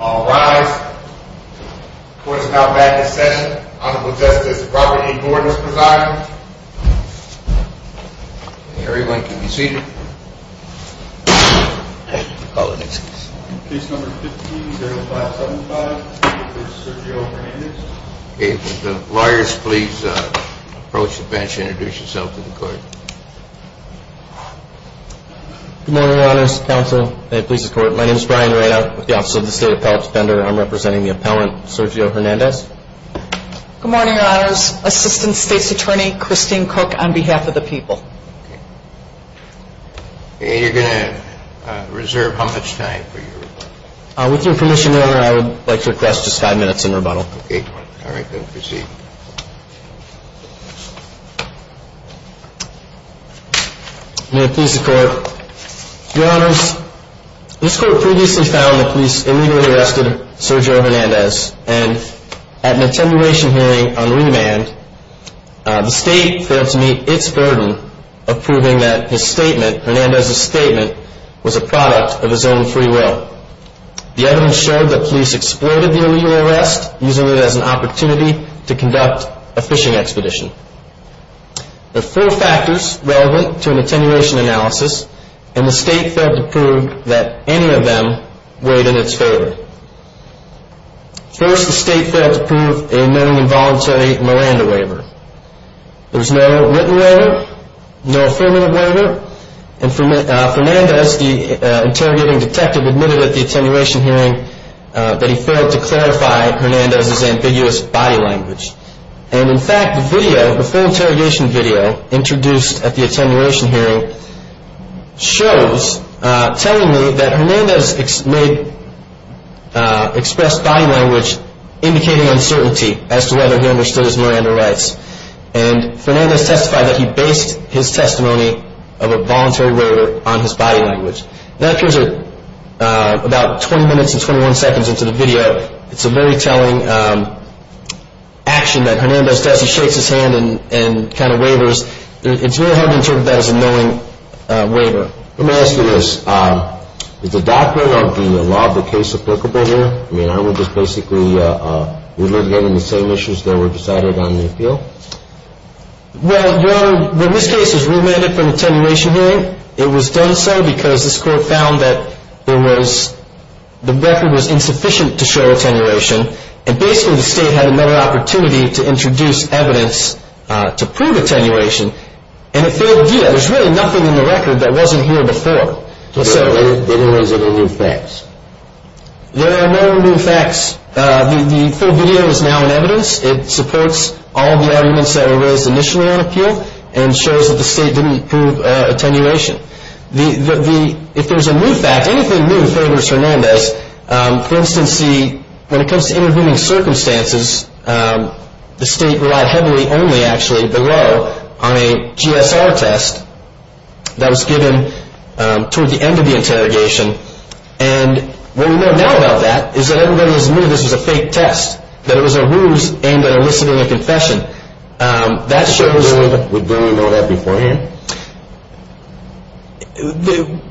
All rise. The court is now back in session. Honorable Justice Robert A. Gordon is presiding. Everyone can be seated. Case number 15-0575, Mr. Sergio Hernandez. Okay, would the lawyers please approach the bench and introduce yourself to the court. Good morning, Your Honors. Counsel, and police and court, my name is Brian Reina with the Office of the State Appellate Defender. I'm representing the appellant, Sergio Hernandez. Good morning, Your Honors. Assistant State's Attorney, Christine Cook, on behalf of the people. Okay. And you're going to reserve how much time for your rebuttal? With your permission, Your Honor, I would like to request just five minutes in rebuttal. Okay. All right, then proceed. May it please the court. Your Honors, this court previously found that police illegally arrested Sergio Hernandez, and at an attenuation hearing on remand, the state failed to meet its burden of proving that his statement, Hernandez's statement, was a product of his own free will. The evidence showed that police exploited the illegal arrest, using it as an opportunity to conduct a fishing expedition. There are four factors relevant to an attenuation analysis, and the state failed to prove that any of them weighed in its favor. First, the state failed to prove a non-voluntary Miranda waiver. There was no written waiver, no affirmative waiver, and Fernandez, the interrogating detective, admitted at the attenuation hearing that he failed to clarify Hernandez's ambiguous body language. And, in fact, the video, the full interrogation video, introduced at the attenuation hearing, shows, telling me that Hernandez expressed body language indicating uncertainty as to whether he understood his Miranda rights. And Fernandez testified that he based his testimony of a voluntary waiver on his body language. That appears about 20 minutes and 21 seconds into the video. It's a very telling action that Hernandez does. He shakes his hand and kind of wavers. It's really hard to interpret that as a knowing waiver. Let me ask you this. Is the doctrine of the law of the case applicable here? I mean, aren't we just basically reliving the same issues that were decided on the appeal? Well, Your Honor, when this case was remanded from attenuation hearing, it was done so because this court found that there was, the record was insufficient to show attenuation. And, basically, the state had another opportunity to introduce evidence to prove attenuation. And it failed to do that. There's really nothing in the record that wasn't here before. So there are no new facts. There are no new facts. The full video is now in evidence. It supports all the arguments that were raised initially on appeal and shows that the state didn't prove attenuation. If there's a new fact, anything new favors Hernandez. For instance, when it comes to interviewing circumstances, the state relied heavily only, actually, below, on a GSR test that was given toward the end of the interrogation. And what we know now about that is that everybody has admitted this was a fake test, that it was a ruse aimed at eliciting a confession. That shows- Would Bernie know that beforehand?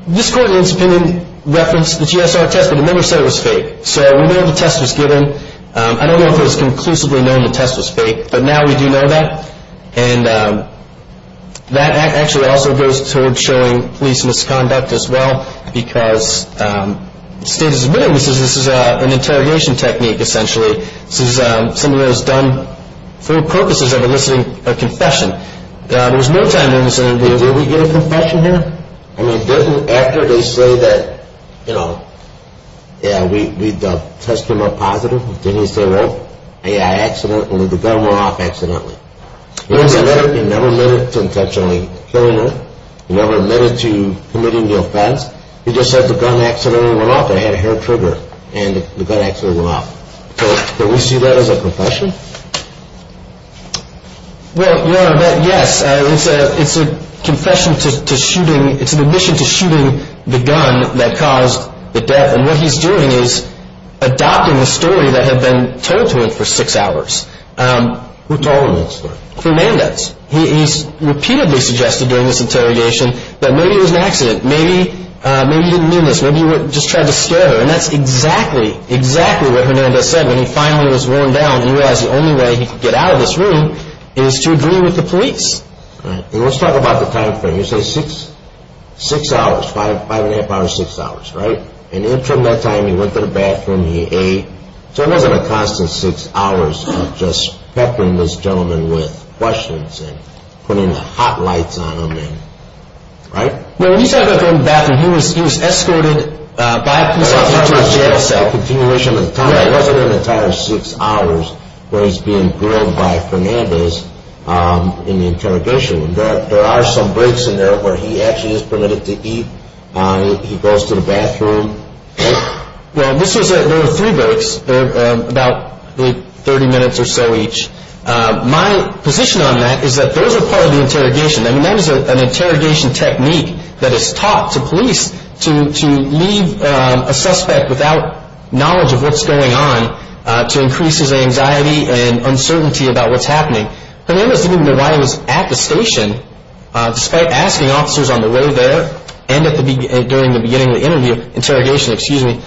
This court in its opinion referenced the GSR test, but it never said it was fake. So we know the test was given. I don't know if it was conclusively known the test was fake, but now we do know that. And that actually also goes toward showing police misconduct as well because the state has admitted this is an interrogation technique, essentially. This is something that was done for purposes of eliciting a confession. There was no time in this interview. Did we get a confession here? I mean, didn't, after they say that, you know, yeah, we touched him up positive, didn't he say, well, yeah, I accidentally, the gun went off accidentally? He never admitted to intentionally killing him. He never admitted to committing the offense. He just said the gun accidentally went off. I had a hair trigger and the gun accidentally went off. Did we see that as a confession? Well, no, but yes, it's a confession to shooting, it's an admission to shooting the gun that caused the death. And what he's doing is adopting a story that had been told to him for six hours. Who told him that story? Hernandez. He's repeatedly suggested during this interrogation that maybe it was an accident. Maybe he didn't mean this. Maybe he just tried to scare her. And that's exactly, exactly what Hernandez said when he finally was worn down. He realized the only way he could get out of this room is to agree with the police. Let's talk about the time frame. You say six, six hours, five, five and a half hours, six hours, right? And in the interim that time, he went to the bathroom, he ate. So it wasn't a constant six hours of just peppering this gentleman with questions and putting hot lights on him, right? Well, when you talk about going to the bathroom, he was escorted by a police officer to a jail cell. It wasn't an entire six hours where he's being grilled by Hernandez in the interrogation room. There are some breaks in there where he actually is permitted to eat. He goes to the bathroom. Well, there were three breaks, about 30 minutes or so each. My position on that is that those are part of the interrogation. I mean, that is an interrogation technique that is taught to police to leave a suspect without knowledge of what's going on to increase his anxiety and uncertainty about what's happening. Hernandez didn't even know why he was at the station, despite asking officers on the way there and during the beginning of the interview, interrogation, excuse me,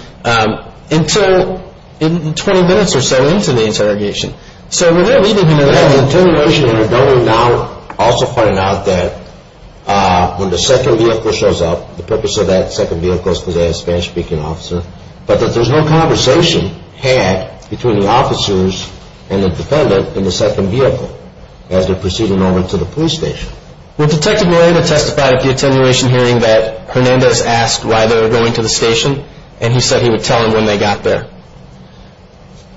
until 20 minutes or so into the interrogation. So they're leaving him there. They have an attenuation and are going now, also finding out that when the second vehicle shows up, the purpose of that second vehicle is because they have a Spanish-speaking officer, but that there's no conversation had between the officers and the defendant in the second vehicle as they're proceeding over to the police station. Well, Detective Moreno testified at the attenuation hearing that Hernandez asked why they were going to the station and he said he would tell them when they got there.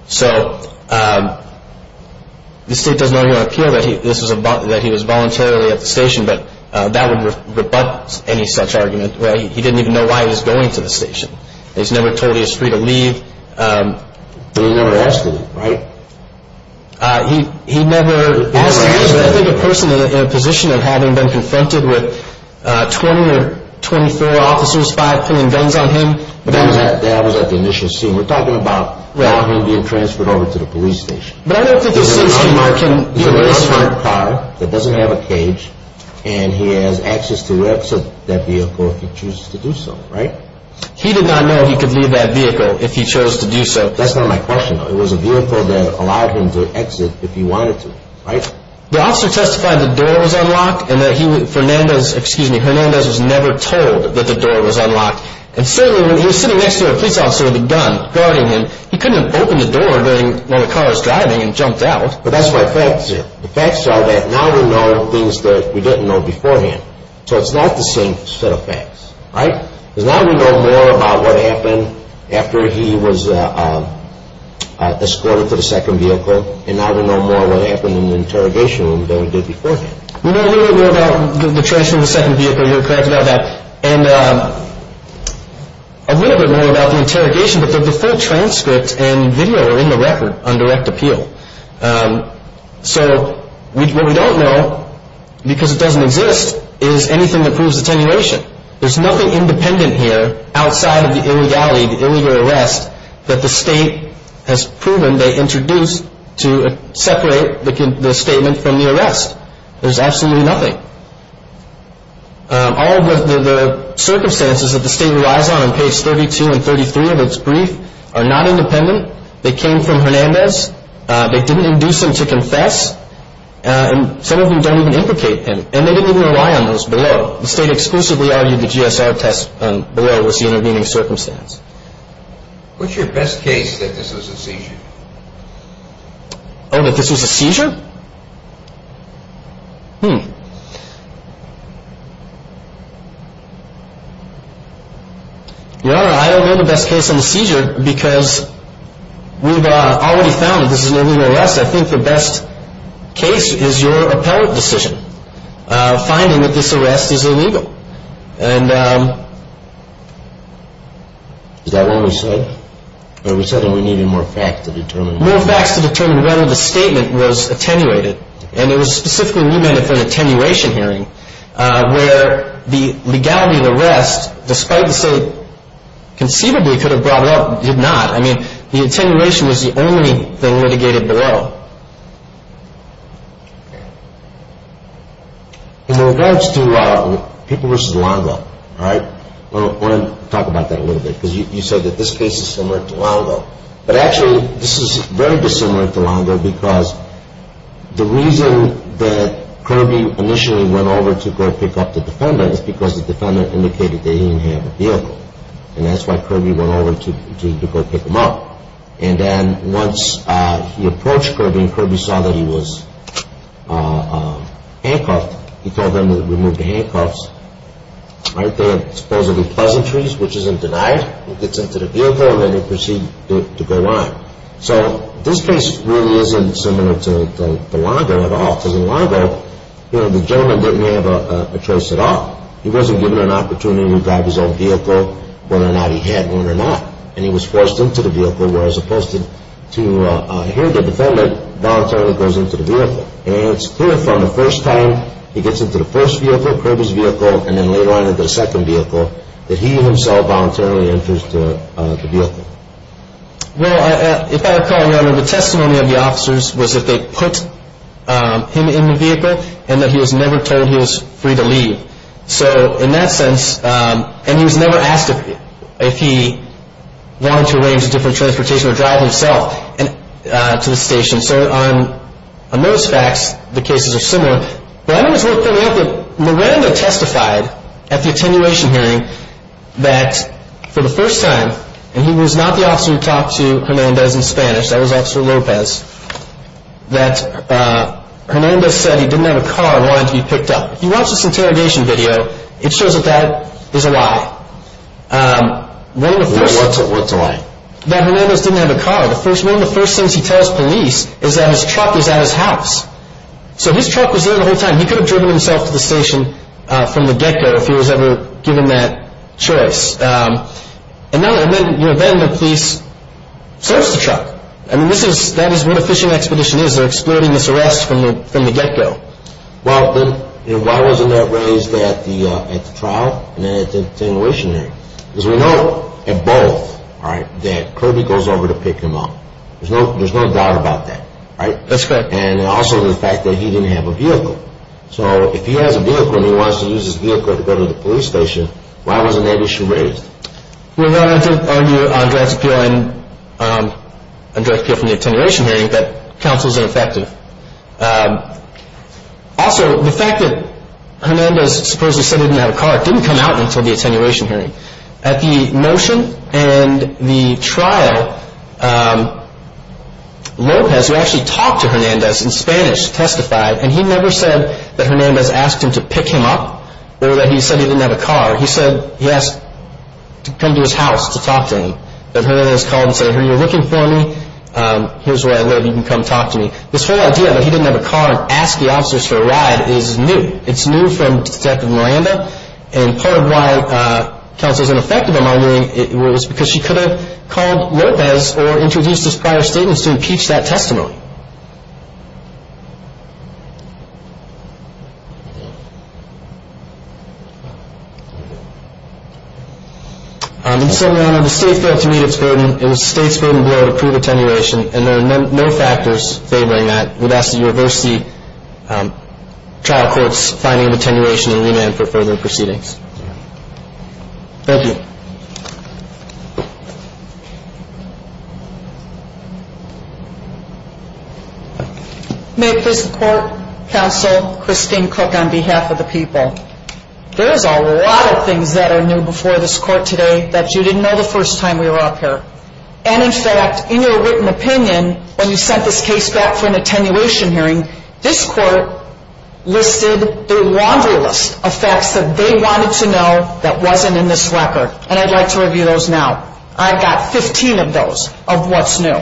So the state does not want to appeal that he was voluntarily at the station, but that would rebut any such argument. He didn't even know why he was going to the station. He was never told he was free to leave. But he never asked him, right? He never asked him. He was never the person in a position of having been confronted with 20 or 24 officers, 5, putting guns on him. But that was at the initial scene. We're talking about him being transferred over to the police station. But I don't think this seems to mark him being transferred. He's in a car that doesn't have a cage, and he has access to exit that vehicle if he chooses to do so, right? He did not know he could leave that vehicle if he chose to do so. That's not my question, though. It was a vehicle that allowed him to exit if he wanted to, right? The officer testified the door was unlocked and that Hernandez was never told that the door was unlocked. And certainly when he was sitting next to a police officer with a gun guarding him, he couldn't have opened the door when the car was driving and jumped out. But that's my facts here. The facts are that now we know things that we didn't know beforehand. So it's not the same set of facts, right? Because now we know more about what happened after he was escorted to the second vehicle, and now we know more what happened in the interrogation room than we did beforehand. We know a little bit more about the transfer of the second vehicle. You're correct about that. And a little bit more about the interrogation, but the full transcript and video are in the record on direct appeal. So what we don't know, because it doesn't exist, is anything that proves attenuation. There's nothing independent here outside of the illegality, the illegal arrest, that the state has proven they introduced to separate the statement from the arrest. There's absolutely nothing. All of the circumstances that the state relies on in page 32 and 33 of its brief are not independent. They came from Hernandez. They didn't induce him to confess, and some of them don't even implicate him. And they didn't even rely on those below. The state exclusively argued the GSR test below was the intervening circumstance. What's your best case that this was a seizure? Oh, that this was a seizure? Your Honor, I don't know the best case on the seizure, because we've already found that this is an illegal arrest. I think the best case is your appellate decision, finding that this arrest is illegal. And is that what we said? We said that we needed more facts to determine. More facts to determine whether the statement was attenuated, and it was specifically remanded for an attenuation hearing, where the legality of the arrest, despite the state conceivably could have brought it up, did not. I mean, the attenuation was the only thing litigated below. In regards to people versus law and law, all right, I want to talk about that a little bit, because you said that this case is similar to Longo. But actually, this is very dissimilar to Longo, because the reason that Kirby initially went over to go pick up the defendant is because the defendant indicated that he didn't have a vehicle. And that's why Kirby went over to go pick him up. And then once he approached Kirby and Kirby saw that he was handcuffed, he told them to remove the handcuffs. All right, they had supposedly pleasantries, which isn't denied. He gets into the vehicle, and then he proceeded to go on. So this case really isn't similar to Longo at all, because in Longo, you know, the gentleman didn't have a choice at all. He wasn't given an opportunity to drive his own vehicle, whether or not he had one or not. And he was forced into the vehicle where, as opposed to hearing the defendant, voluntarily goes into the vehicle. And it's clear from the first time he gets into the first vehicle, Kirby's vehicle, and then later on into the second vehicle, that he himself voluntarily enters the vehicle. Well, if I recall, Your Honor, the testimony of the officers was that they put him in the vehicle and that he was never told he was free to leave. So in that sense, and he was never asked if he wanted to arrange a different transportation or drive himself to the station. So on those facts, the cases are similar. But I think it's worth pointing out that Miranda testified at the attenuation hearing that for the first time, and he was not the officer who talked to Hernandez in Spanish, that was Officer Lopez, that Hernandez said he didn't have a car and wanted to be picked up. If you watch this interrogation video, it shows that that is a lie. What's a lie? That Hernandez didn't have a car. One of the first things he tells police is that his truck was at his house. So his truck was there the whole time. He could have driven himself to the station from the get-go if he was ever given that choice. And then the police searched the truck. I mean, that is what a fishing expedition is. They're exploiting this arrest from the get-go. Well, then why wasn't that raised at the trial and at the attenuation hearing? Because we know at both that Kirby goes over to pick him up. There's no doubt about that. That's correct. And also the fact that he didn't have a vehicle. So if he has a vehicle and he wants to use his vehicle to go to the police station, why wasn't that issue raised? We're going to have to argue on draft appeal and draft appeal from the attenuation hearing that counsel is ineffective. Also, the fact that Hernandez supposedly said he didn't have a car didn't come out until the attenuation hearing. At the motion and the trial, López, who actually talked to Hernandez in Spanish, testified, and he never said that Hernandez asked him to pick him up or that he said he didn't have a car. He said he asked to come to his house to talk to him, that Hernandez called and said, Hey, are you looking for me? Here's where I live. You can come talk to me. This whole idea that he didn't have a car and asked the officers for a ride is new. It's new from Detective Miranda, and part of why counsel is ineffective, in my view, was because she could have called López or introduced his prior statements to impeach that testimony. In some manner, the state failed to meet its burden. It was the state's burden to approve attenuation, and there are no factors favoring that. I would ask the university trial court's finding of attenuation and remand for further proceedings. Thank you. May it please the court, counsel, Christine Cook, on behalf of the people, there is a lot of things that are new before this court today that you didn't know the first time we were up here. And in fact, in your written opinion, when you sent this case back for an attenuation hearing, this court listed the laundry list of facts that they wanted to know that wasn't in this record. And I'd like to review those now. I've got 15 of those of what's new.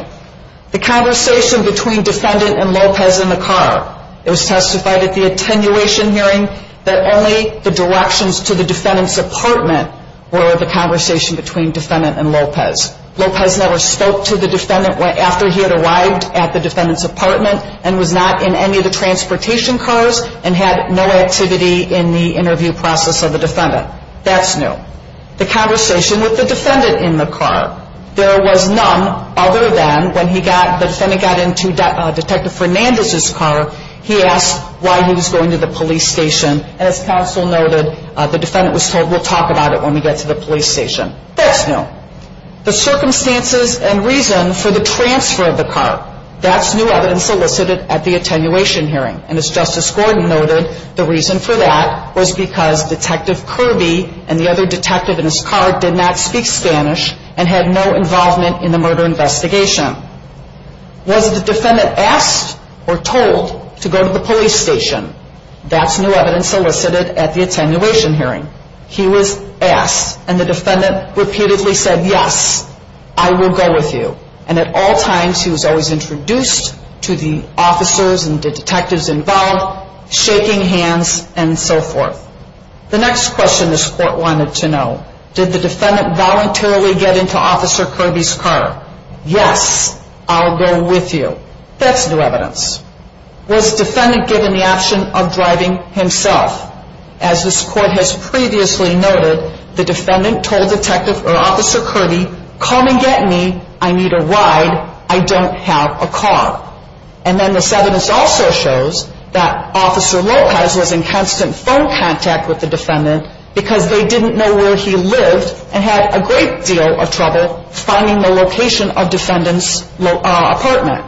The conversation between defendant and López in the car. It was testified at the attenuation hearing that only the directions to the defendant's apartment were the conversation between defendant and López. López never spoke to the defendant after he had arrived at the defendant's apartment and was not in any of the transportation cars and had no activity in the interview process of the defendant. That's new. The conversation with the defendant in the car. There was none other than when the defendant got into Detective Fernandez's car, he asked why he was going to the police station. And as counsel noted, the defendant was told, we'll talk about it when we get to the police station. That's new. The circumstances and reason for the transfer of the car. That's new evidence solicited at the attenuation hearing. And as Justice Gordon noted, the reason for that was because Detective Kirby and the other detective in his car did not speak Spanish and had no involvement in the murder investigation. Was the defendant asked or told to go to the police station? That's new evidence solicited at the attenuation hearing. He was asked and the defendant repeatedly said, yes, I will go with you. And at all times he was always introduced to the officers and the detectives involved, shaking hands and so forth. The next question this court wanted to know, did the defendant voluntarily get into Officer Kirby's car? Yes, I'll go with you. That's new evidence. Was the defendant given the option of driving himself? As this court has previously noted, the defendant told Detective or Officer Kirby, come and get me, I need a ride, I don't have a car. And then this evidence also shows that Officer Lopez was in constant phone contact with the defendant because they didn't know where he lived and had a great deal of trouble finding the location of the defendant's apartment.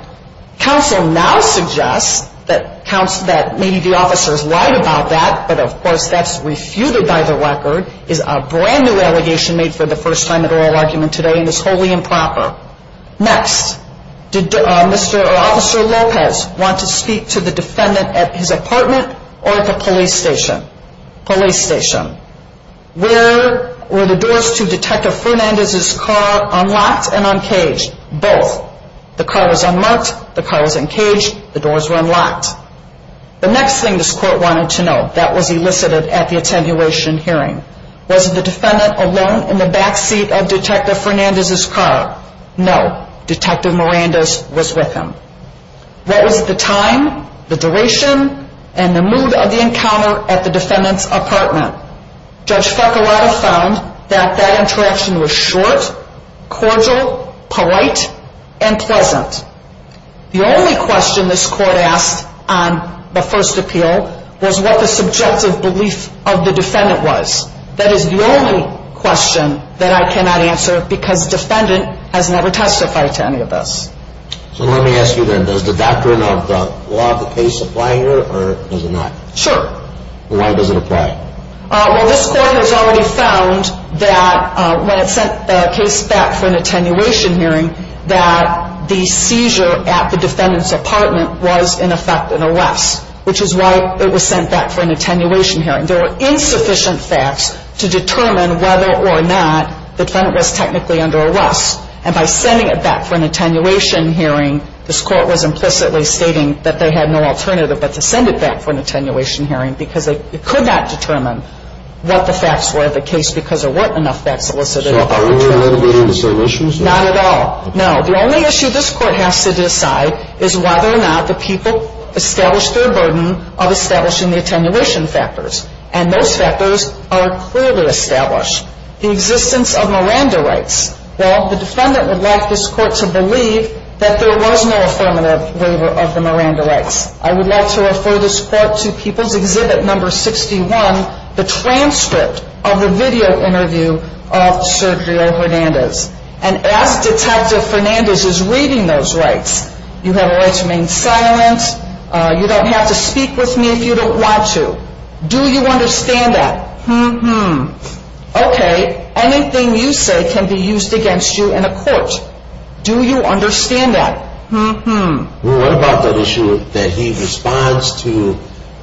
Counsel now suggests that maybe the officers lied about that, but of course that's refuted by the record, is a brand new allegation made for the first time in oral argument today and is wholly improper. Next, did Officer Lopez want to speak to the defendant at his apartment or at the police station? Police station. Were the doors to Detective Fernandez's car unlocked and uncaged? Both. The car was unmarked, the car was uncaged, the doors were unlocked. The next thing this court wanted to know that was elicited at the attenuation hearing. Was the defendant alone in the backseat of Detective Fernandez's car? No. Detective Miranda's was with him. What was the time, the duration, and the mood of the encounter at the defendant's apartment? Judge Farquharada found that that interaction was short, cordial, polite, and pleasant. The only question this court asked on the first appeal was what the subjective belief of the defendant was. That is the only question that I cannot answer because the defendant has never testified to any of this. So let me ask you then, does the doctrine of the law of the case apply here or does it not? Sure. Why does it apply? Well, this court has already found that when it sent the case back for an attenuation hearing that the seizure at the defendant's apartment was in effect an arrest, which is why it was sent back for an attenuation hearing. There were insufficient facts to determine whether or not the defendant was technically under arrest. And by sending it back for an attenuation hearing, this court was implicitly stating that they had no alternative but to send it back for an attenuation hearing because it could not determine what the facts were of the case because there weren't enough facts elicited. So are we mitigating the same issues? Not at all. No. The only issue this court has to decide is whether or not the people established their burden of establishing the attenuation factors. And those factors are clearly established. The existence of Miranda rights. Well, the defendant would like this court to believe that there was no affirmative waiver of the Miranda rights. I would like to refer this court to People's Exhibit No. 61, the transcript of the video interview of Sergio Hernandez. And as Detective Fernandez is reading those rights, you have a right to remain silent, you don't have to speak with me if you don't want to. Do you understand that? Mm-hmm. Okay. Anything you say can be used against you in a court. Do you understand that? Mm-hmm. Well, what about that issue that he responds to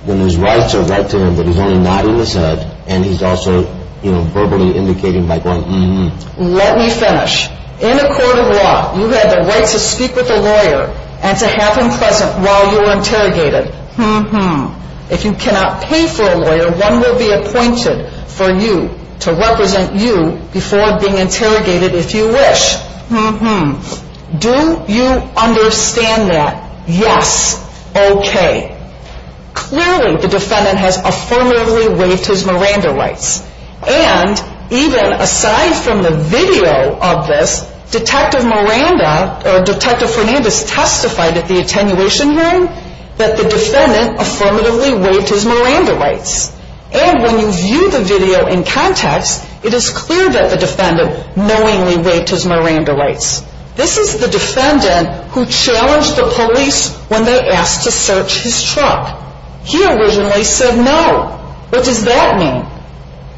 when his rights are right to him but he's only nodding his head and he's also verbally indicating by going, Mm-hmm. Let me finish. In a court of law, you have the right to speak with a lawyer and to have him present while you are interrogated. Mm-hmm. If you cannot pay for a lawyer, one will be appointed for you to represent you before being interrogated if you wish. Mm-hmm. Do you understand that? Yes. Okay. Clearly, the defendant has affirmatively waived his Miranda rights. And even aside from the video of this, Detective Fernandez testified at the attenuation hearing that the defendant affirmatively waived his Miranda rights. And when you view the video in context, it is clear that the defendant knowingly waived his Miranda rights. This is the defendant who challenged the police when they asked to search his truck. He originally said no. What does that mean?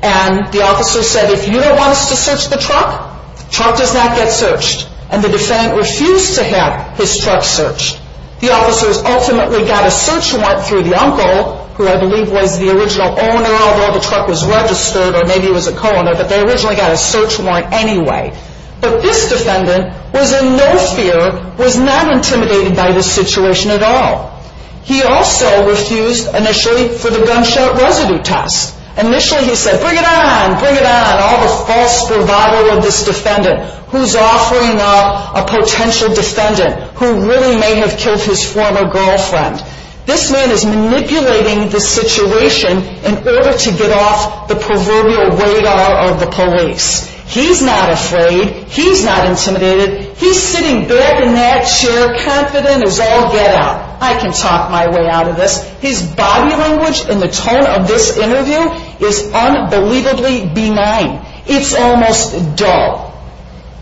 And the officer said, if you don't want us to search the truck, the truck does not get searched. And the defendant refused to have his truck searched. The officers ultimately got a search warrant through the uncle, who I believe was the original owner, although the truck was registered or maybe he was a co-owner, but they originally got a search warrant anyway. But this defendant was in no fear, was not intimidated by the situation at all. He also refused initially for the gunshot residue test. Initially he said, bring it on, bring it on, all the false revival of this defendant. Who's offering up a potential defendant who really may have killed his former girlfriend. This man is manipulating the situation in order to get off the proverbial radar of the police. He's not afraid, he's not intimidated, he's sitting back in that chair confident as all get out. I can talk my way out of this. His body language and the tone of this interview is unbelievably benign. It's almost dull.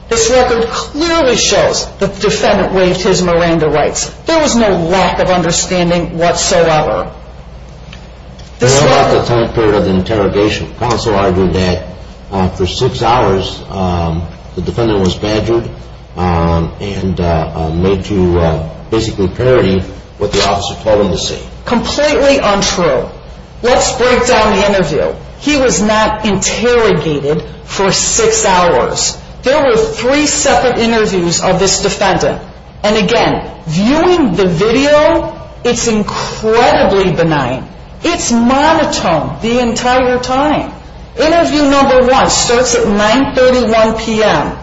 This record clearly shows the defendant waived his Miranda rights. There was no lack of understanding whatsoever. There was no lack of time period of interrogation. Counsel argued that for six hours the defendant was badgered and made to basically parody what the officer told him to say. Completely untrue. Let's break down the interview. He was not interrogated for six hours. There were three separate interviews of this defendant. And again, viewing the video, it's incredibly benign. It's monotone the entire time. Interview number one starts at 9.31 p.m.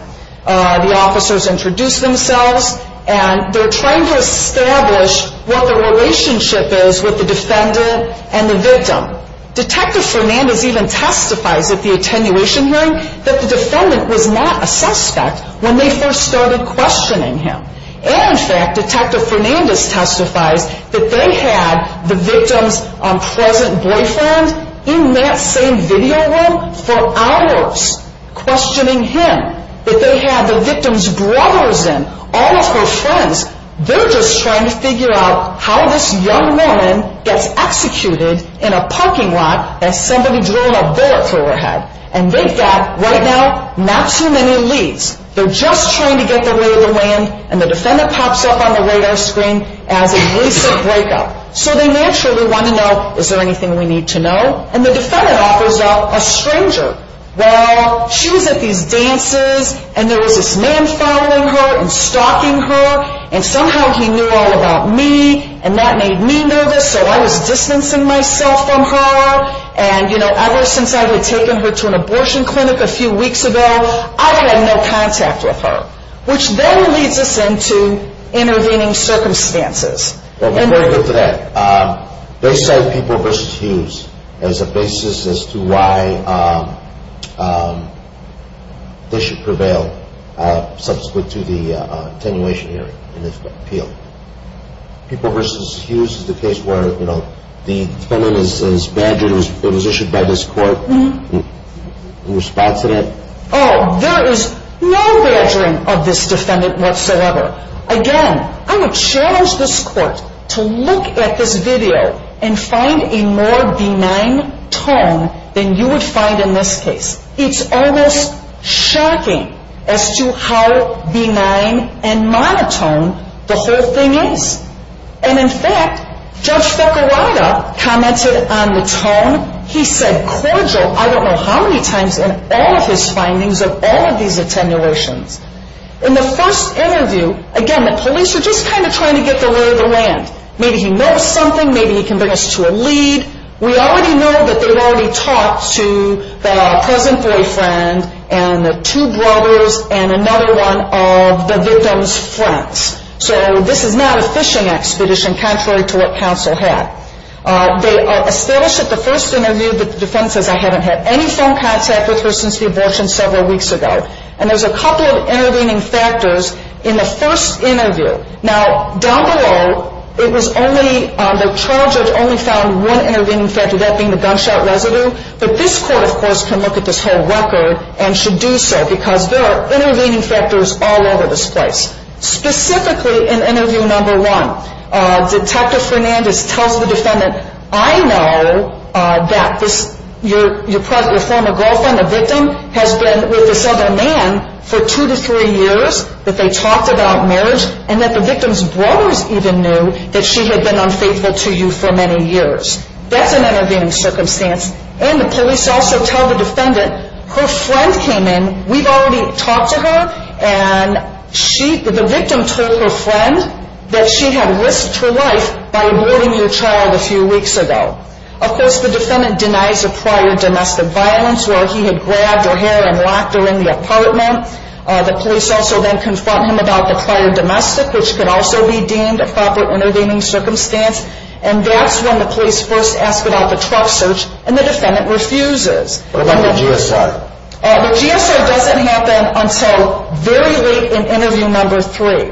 The officers introduce themselves and they're trying to establish what the relationship is with the defendant and the victim. Detective Fernandez even testifies at the attenuation hearing that the defendant was not a suspect when they first started questioning him. And in fact, Detective Fernandez testifies that they had the victim's present boyfriend in that same video room for hours questioning him. That they had the victim's brothers in, all of her friends. They're just trying to figure out how this young woman gets executed in a parking lot as somebody drilling a bullet through her head. And they've got, right now, not too many leads. They're just trying to get their way of the land. And the defendant pops up on the radar screen as a recent breakup. So they naturally want to know, is there anything we need to know? And the defendant offers up a stranger. Well, she was at these dances and there was this man following her and stalking her. And somehow he knew all about me. And that made me nervous, so I was distancing myself from her. And, you know, ever since I had taken her to an abortion clinic a few weeks ago, I had no contact with her. Which then leads us into intervening circumstances. They cited People v. Hughes as a basis as to why they should prevail subsequent to the attenuation hearing in this appeal. People v. Hughes is the case where, you know, the defendant is badgered. It was issued by this court in response to that. Oh, there is no badgering of this defendant whatsoever. Again, I would challenge this court to look at this video and find a more benign tone than you would find in this case. It's almost shocking as to how benign and monotone the whole thing is. And, in fact, Judge Fekirada commented on the tone. He said cordial I don't know how many times in all of his findings of all of these attenuations. In the first interview, again, the police are just kind of trying to get the lay of the land. Maybe he knows something, maybe he can bring us to a lead. We already know that they had already talked to the present boyfriend and the two brothers and another one of the victim's friends. So this is not a fishing expedition contrary to what counsel had. They established at the first interview that the defendant says I haven't had any phone contact with her since the abortion several weeks ago. And there's a couple of intervening factors in the first interview. Now, down below, it was only the trial judge only found one intervening factor, that being the gunshot residue. But this court, of course, can look at this whole record and should do so because there are intervening factors all over this place. Specifically in interview number one, Detective Fernandez tells the defendant I know that your former girlfriend, the victim, has been with this other man for two to three years, that they talked about marriage, and that the victim's brothers even knew that she had been unfaithful to you for many years. That's an intervening circumstance. And the police also tell the defendant her friend came in. We've already talked to her, and the victim told her friend that she had risked her life by aborting your child a few weeks ago. Of course, the defendant denies a prior domestic violence where he had grabbed her hair and locked her in the apartment. The police also then confront him about the prior domestic, which could also be deemed a proper intervening circumstance. And that's when the police first ask about the truck search, and the defendant refuses. What about the GSR? The GSR doesn't happen until very late in interview number three.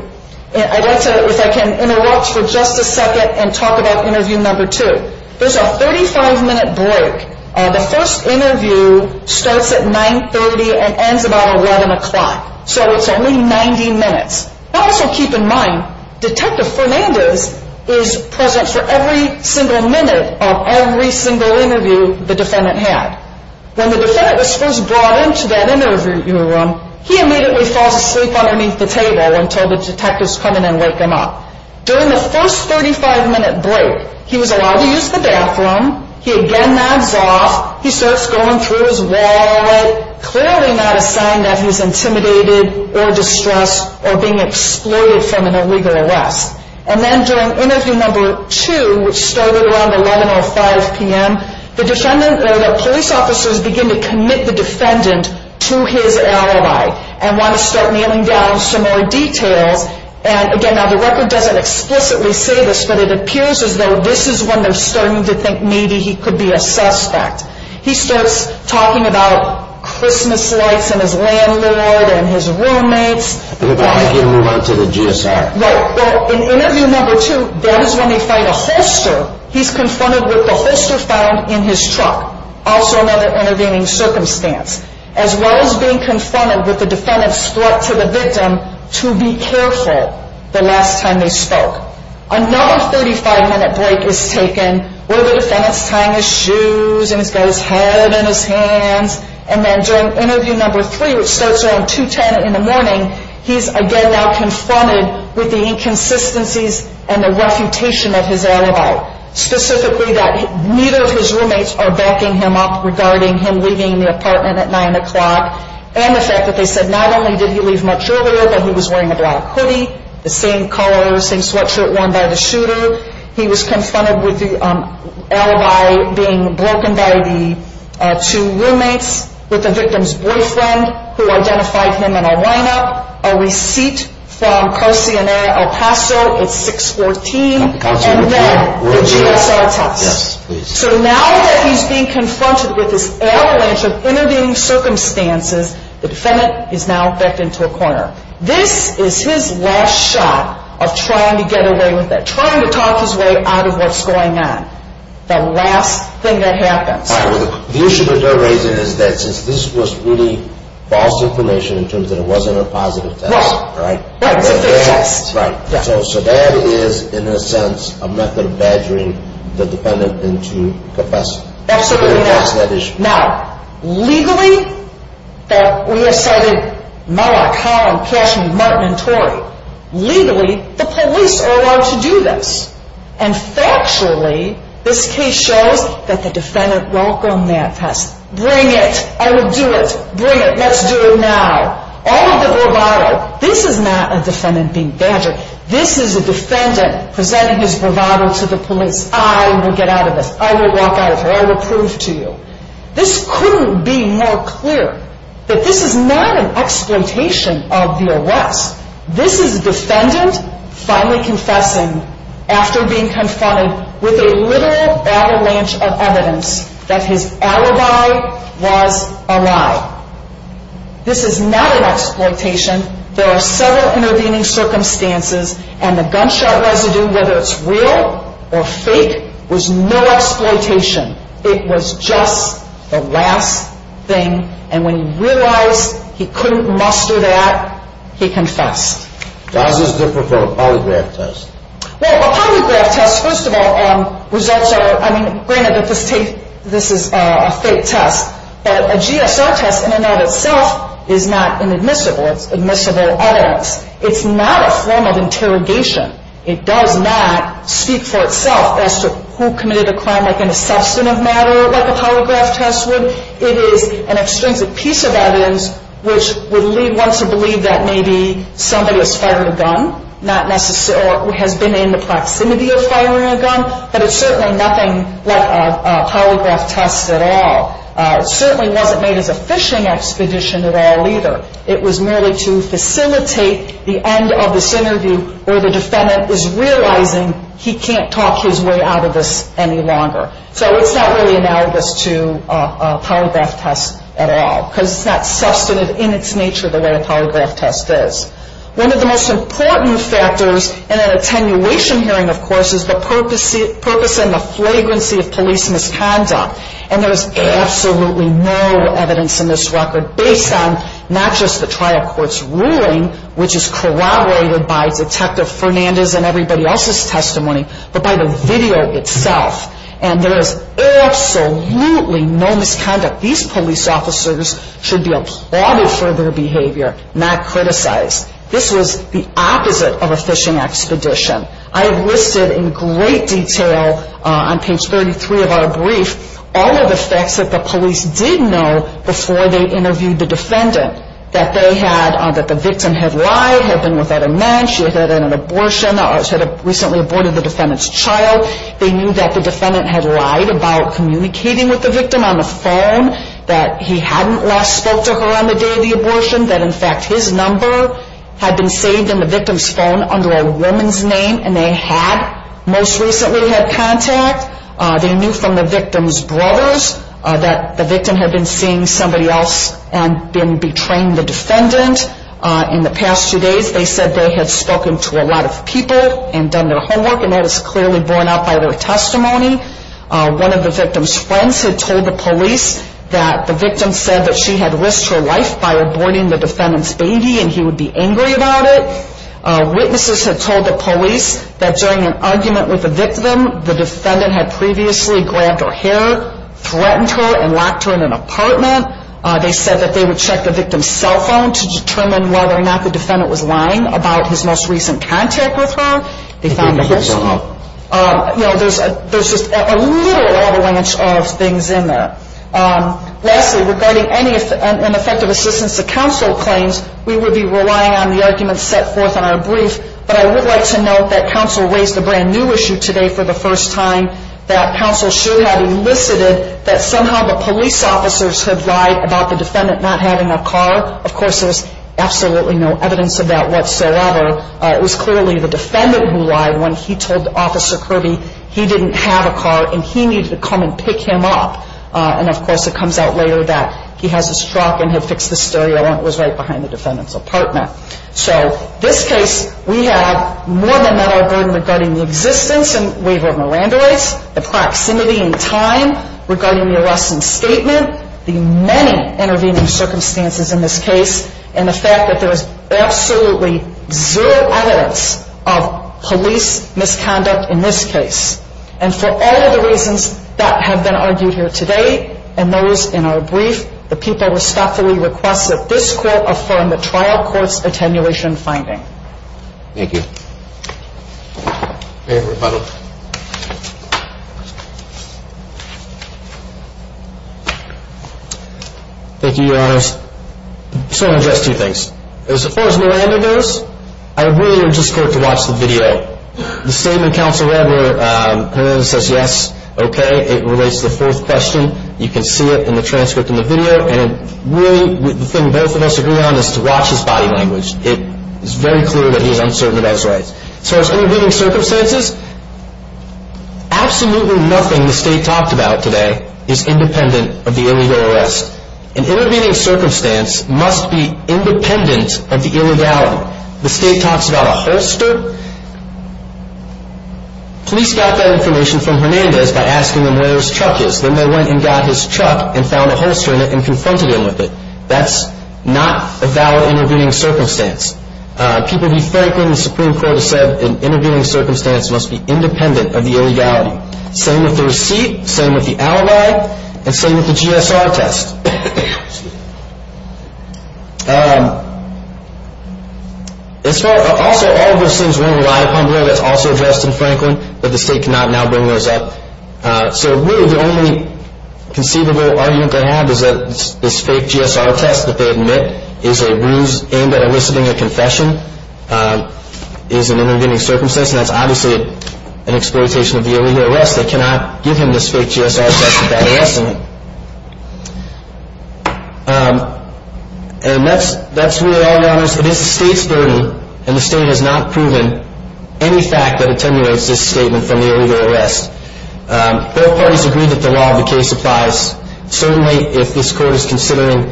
I'd like to, if I can, interrupt for just a second and talk about interview number two. There's a 35-minute break. The first interview starts at 9.30 and ends about 11 o'clock, so it's only 90 minutes. Also keep in mind, Detective Fernandez is present for every single minute of every single interview the defendant had. When the defendant was first brought into that interview room, he immediately falls asleep underneath the table until the detectives come in and wake him up. During the first 35-minute break, he was allowed to use the bathroom. He again nods off. He starts going through his wallet, clearly not a sign that he's intimidated or distressed or being exploited from an illegal arrest. And then during interview number two, which started around 11.05 p.m., the police officers begin to commit the defendant to his alibi and want to start nailing down some more details. And again, now the record doesn't explicitly say this, but it appears as though this is when they're starting to think maybe he could be a suspect. He starts talking about Christmas lights and his landlord and his roommates. Then again, we went to the GSR. Right. Well, in interview number two, that is when they find a holster. He's confronted with the holster found in his truck, also another intervening circumstance, as well as being confronted with the defendant's threat to the victim to be careful the last time they spoke. Another 35-minute break is taken where the defendant's tying his shoes and he's got his head in his hands. And then during interview number three, which starts around 2.10 in the morning, he's again now confronted with the inconsistencies and the refutation of his alibi, specifically that neither of his roommates are backing him up regarding him leaving the apartment at 9 o'clock and the fact that they said not only did he leave much earlier, but he was wearing a black hoodie, the same color, same sweatshirt worn by the shooter. He was confronted with the alibi being broken by the two roommates, with the victim's boyfriend who identified him in a lineup, a receipt from Carcinera El Paso at 6.14, and then the GSR test. So now that he's being confronted with this avalanche of intervening circumstances, the defendant is now backed into a corner. This is his last shot of trying to get away with it, trying to talk his way out of what's going on, the last thing that happens. The issue that they're raising is that since this was really false information in terms that it wasn't a positive test, right? Right, it's a fake test. So that is, in a sense, a method of badgering the defendant into confessing. Absolutely not. To address that issue. Now, legally, we have cited Mueller, Collins, Cashman, Martin, and Torrey. Legally, the police are allowed to do this. And factually, this case shows that the defendant welcomed that test. Bring it. I will do it. Bring it. Let's do it now. All of the bravado. This is not a defendant being badgered. This is a defendant presenting his bravado to the police. I will get out of this. I will walk out of here. I will prove to you. This couldn't be more clear that this is not an exploitation of the arrest. This is a defendant finally confessing after being confronted with a literal battle lance of evidence that his alibi was a lie. This is not an exploitation. There are several intervening circumstances, and the gunshot residue, whether it's real or fake, was no exploitation. It was just the last thing, and when he realized he couldn't muster that, he confessed. How is this different from a polygraph test? Well, a polygraph test, first of all, results are, I mean, granted that this is a fake test, but a GSR test in and of itself is not inadmissible. It's admissible evidence. It's not a form of interrogation. It does not speak for itself as to who committed a crime like an assessment of matter like a polygraph test would. It is an extrinsic piece of evidence which would lead one to believe that maybe somebody was firing a gun, or has been in the proximity of firing a gun, but it's certainly nothing like a polygraph test at all. It certainly wasn't made as a fishing expedition at all either. It was merely to facilitate the end of this interview where the defendant is realizing he can't talk his way out of this any longer. So it's not really analogous to a polygraph test at all, because it's not substantive in its nature the way a polygraph test is. One of the most important factors in an attenuation hearing, of course, is the purpose and the flagrancy of police misconduct, And there is absolutely no evidence in this record based on not just the trial court's ruling, which is corroborated by Detective Fernandez and everybody else's testimony, but by the video itself. And there is absolutely no misconduct. These police officers should be applauded for their behavior, not criticized. This was the opposite of a fishing expedition. I have listed in great detail on page 33 of our brief all of the facts that the police did know before they interviewed the defendant. That they had, that the victim had lied, had been with other men, she had had an abortion, had recently aborted the defendant's child. They knew that the defendant had lied about communicating with the victim on the phone, that he hadn't last spoke to her on the day of the abortion, that in fact his number had been saved in the victim's phone under a woman's name, and they had most recently had contact. They knew from the victim's brothers that the victim had been seeing somebody else and been betraying the defendant. In the past two days they said they had spoken to a lot of people and done their homework, and that is clearly borne out by their testimony. One of the victim's friends had told the police that the victim said that she had risked her life by aborting the defendant's baby and he would be angry about it. Witnesses had told the police that during an argument with the victim, the defendant had previously grabbed her hair, threatened her, and locked her in an apartment. They said that they would check the victim's cell phone to determine whether or not the defendant was lying about his most recent contact with her. They found additional, you know, there's just a little avalanche of things in there. Lastly, regarding any and effective assistance to counsel claims, we would be relying on the arguments set forth in our brief, but I would like to note that counsel raised a brand new issue today for the first time, that counsel should have elicited that somehow the police officers had lied about the defendant not having a car. Of course, there's absolutely no evidence of that whatsoever. It was clearly the defendant who lied when he told Officer Kirby he didn't have a car and he needed to come and pick him up. And, of course, it comes out later that he has his truck and he fixed the stereo and it was right behind the defendant's apartment. So this case, we have more than met our burden regarding the existence and waiver of Miranda rights, the proximity and time regarding the arrest and statement, the many intervening circumstances in this case, and the fact that there is absolutely zero evidence of police misconduct in this case. And for all of the reasons that have been argued here today and those in our brief, the people respectfully request that this court affirm the trial court's attenuation finding. Thank you. May I have a rebuttal? Thank you, Your Honors. I just want to address two things. As far as Miranda goes, I really would just like to watch the video. The statement counsel read where Miranda says yes, okay. It relates to the fourth question. You can see it in the transcript and the video. And really the thing both of us agree on is to watch his body language. It is very clear that he is uncertain about his rights. As far as intervening circumstances, absolutely nothing the State talked about today is independent of the illegal arrest. An intervening circumstance must be independent of the illegality. The State talks about a holster. Police got that information from Hernandez by asking him where his truck is. Then they went and got his truck and found a holster in it and confronted him with it. That's not a valid intervening circumstance. People be frank in the Supreme Court has said an intervening circumstance must be independent of the illegality. Same with the receipt. Same with the alibi. And same with the GSR test. Also, all of those things rely upon a rule that is also addressed in Franklin that the State cannot now bring those up. So really the only conceivable argument they have is that this fake GSR test that they admit is a ruse aimed at eliciting a confession is an intervening circumstance. That's obviously an exploitation of the illegal arrest. They cannot give him this fake GSR test without asking him. And that's really all there is to this. It's the State's burden and the State has not proven any fact that attenuates this statement from the illegal arrest. Both parties agree that the law of the case applies. Certainly if this court is considering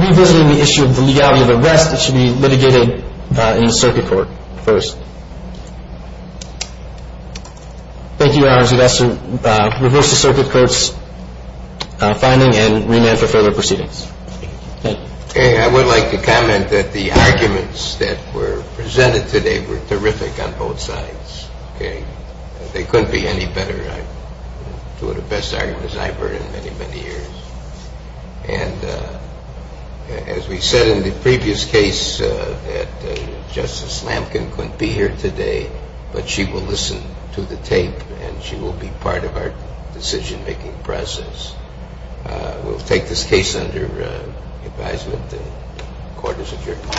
revisiting the issue of the legality of arrest, it should be litigated in the circuit court first. Thank you, Your Honors. We'd like to reverse the circuit court's finding and remand for further proceedings. Thank you. I would like to comment that the arguments that were presented today were terrific on both sides. They couldn't be any better. Two of the best arguments I've heard in many, many years. And as we said in the previous case that Justice Lamkin couldn't be here today, but she will listen to the tape and she will be part of our decision-making process. We'll take this case under advisement. The court is adjourned.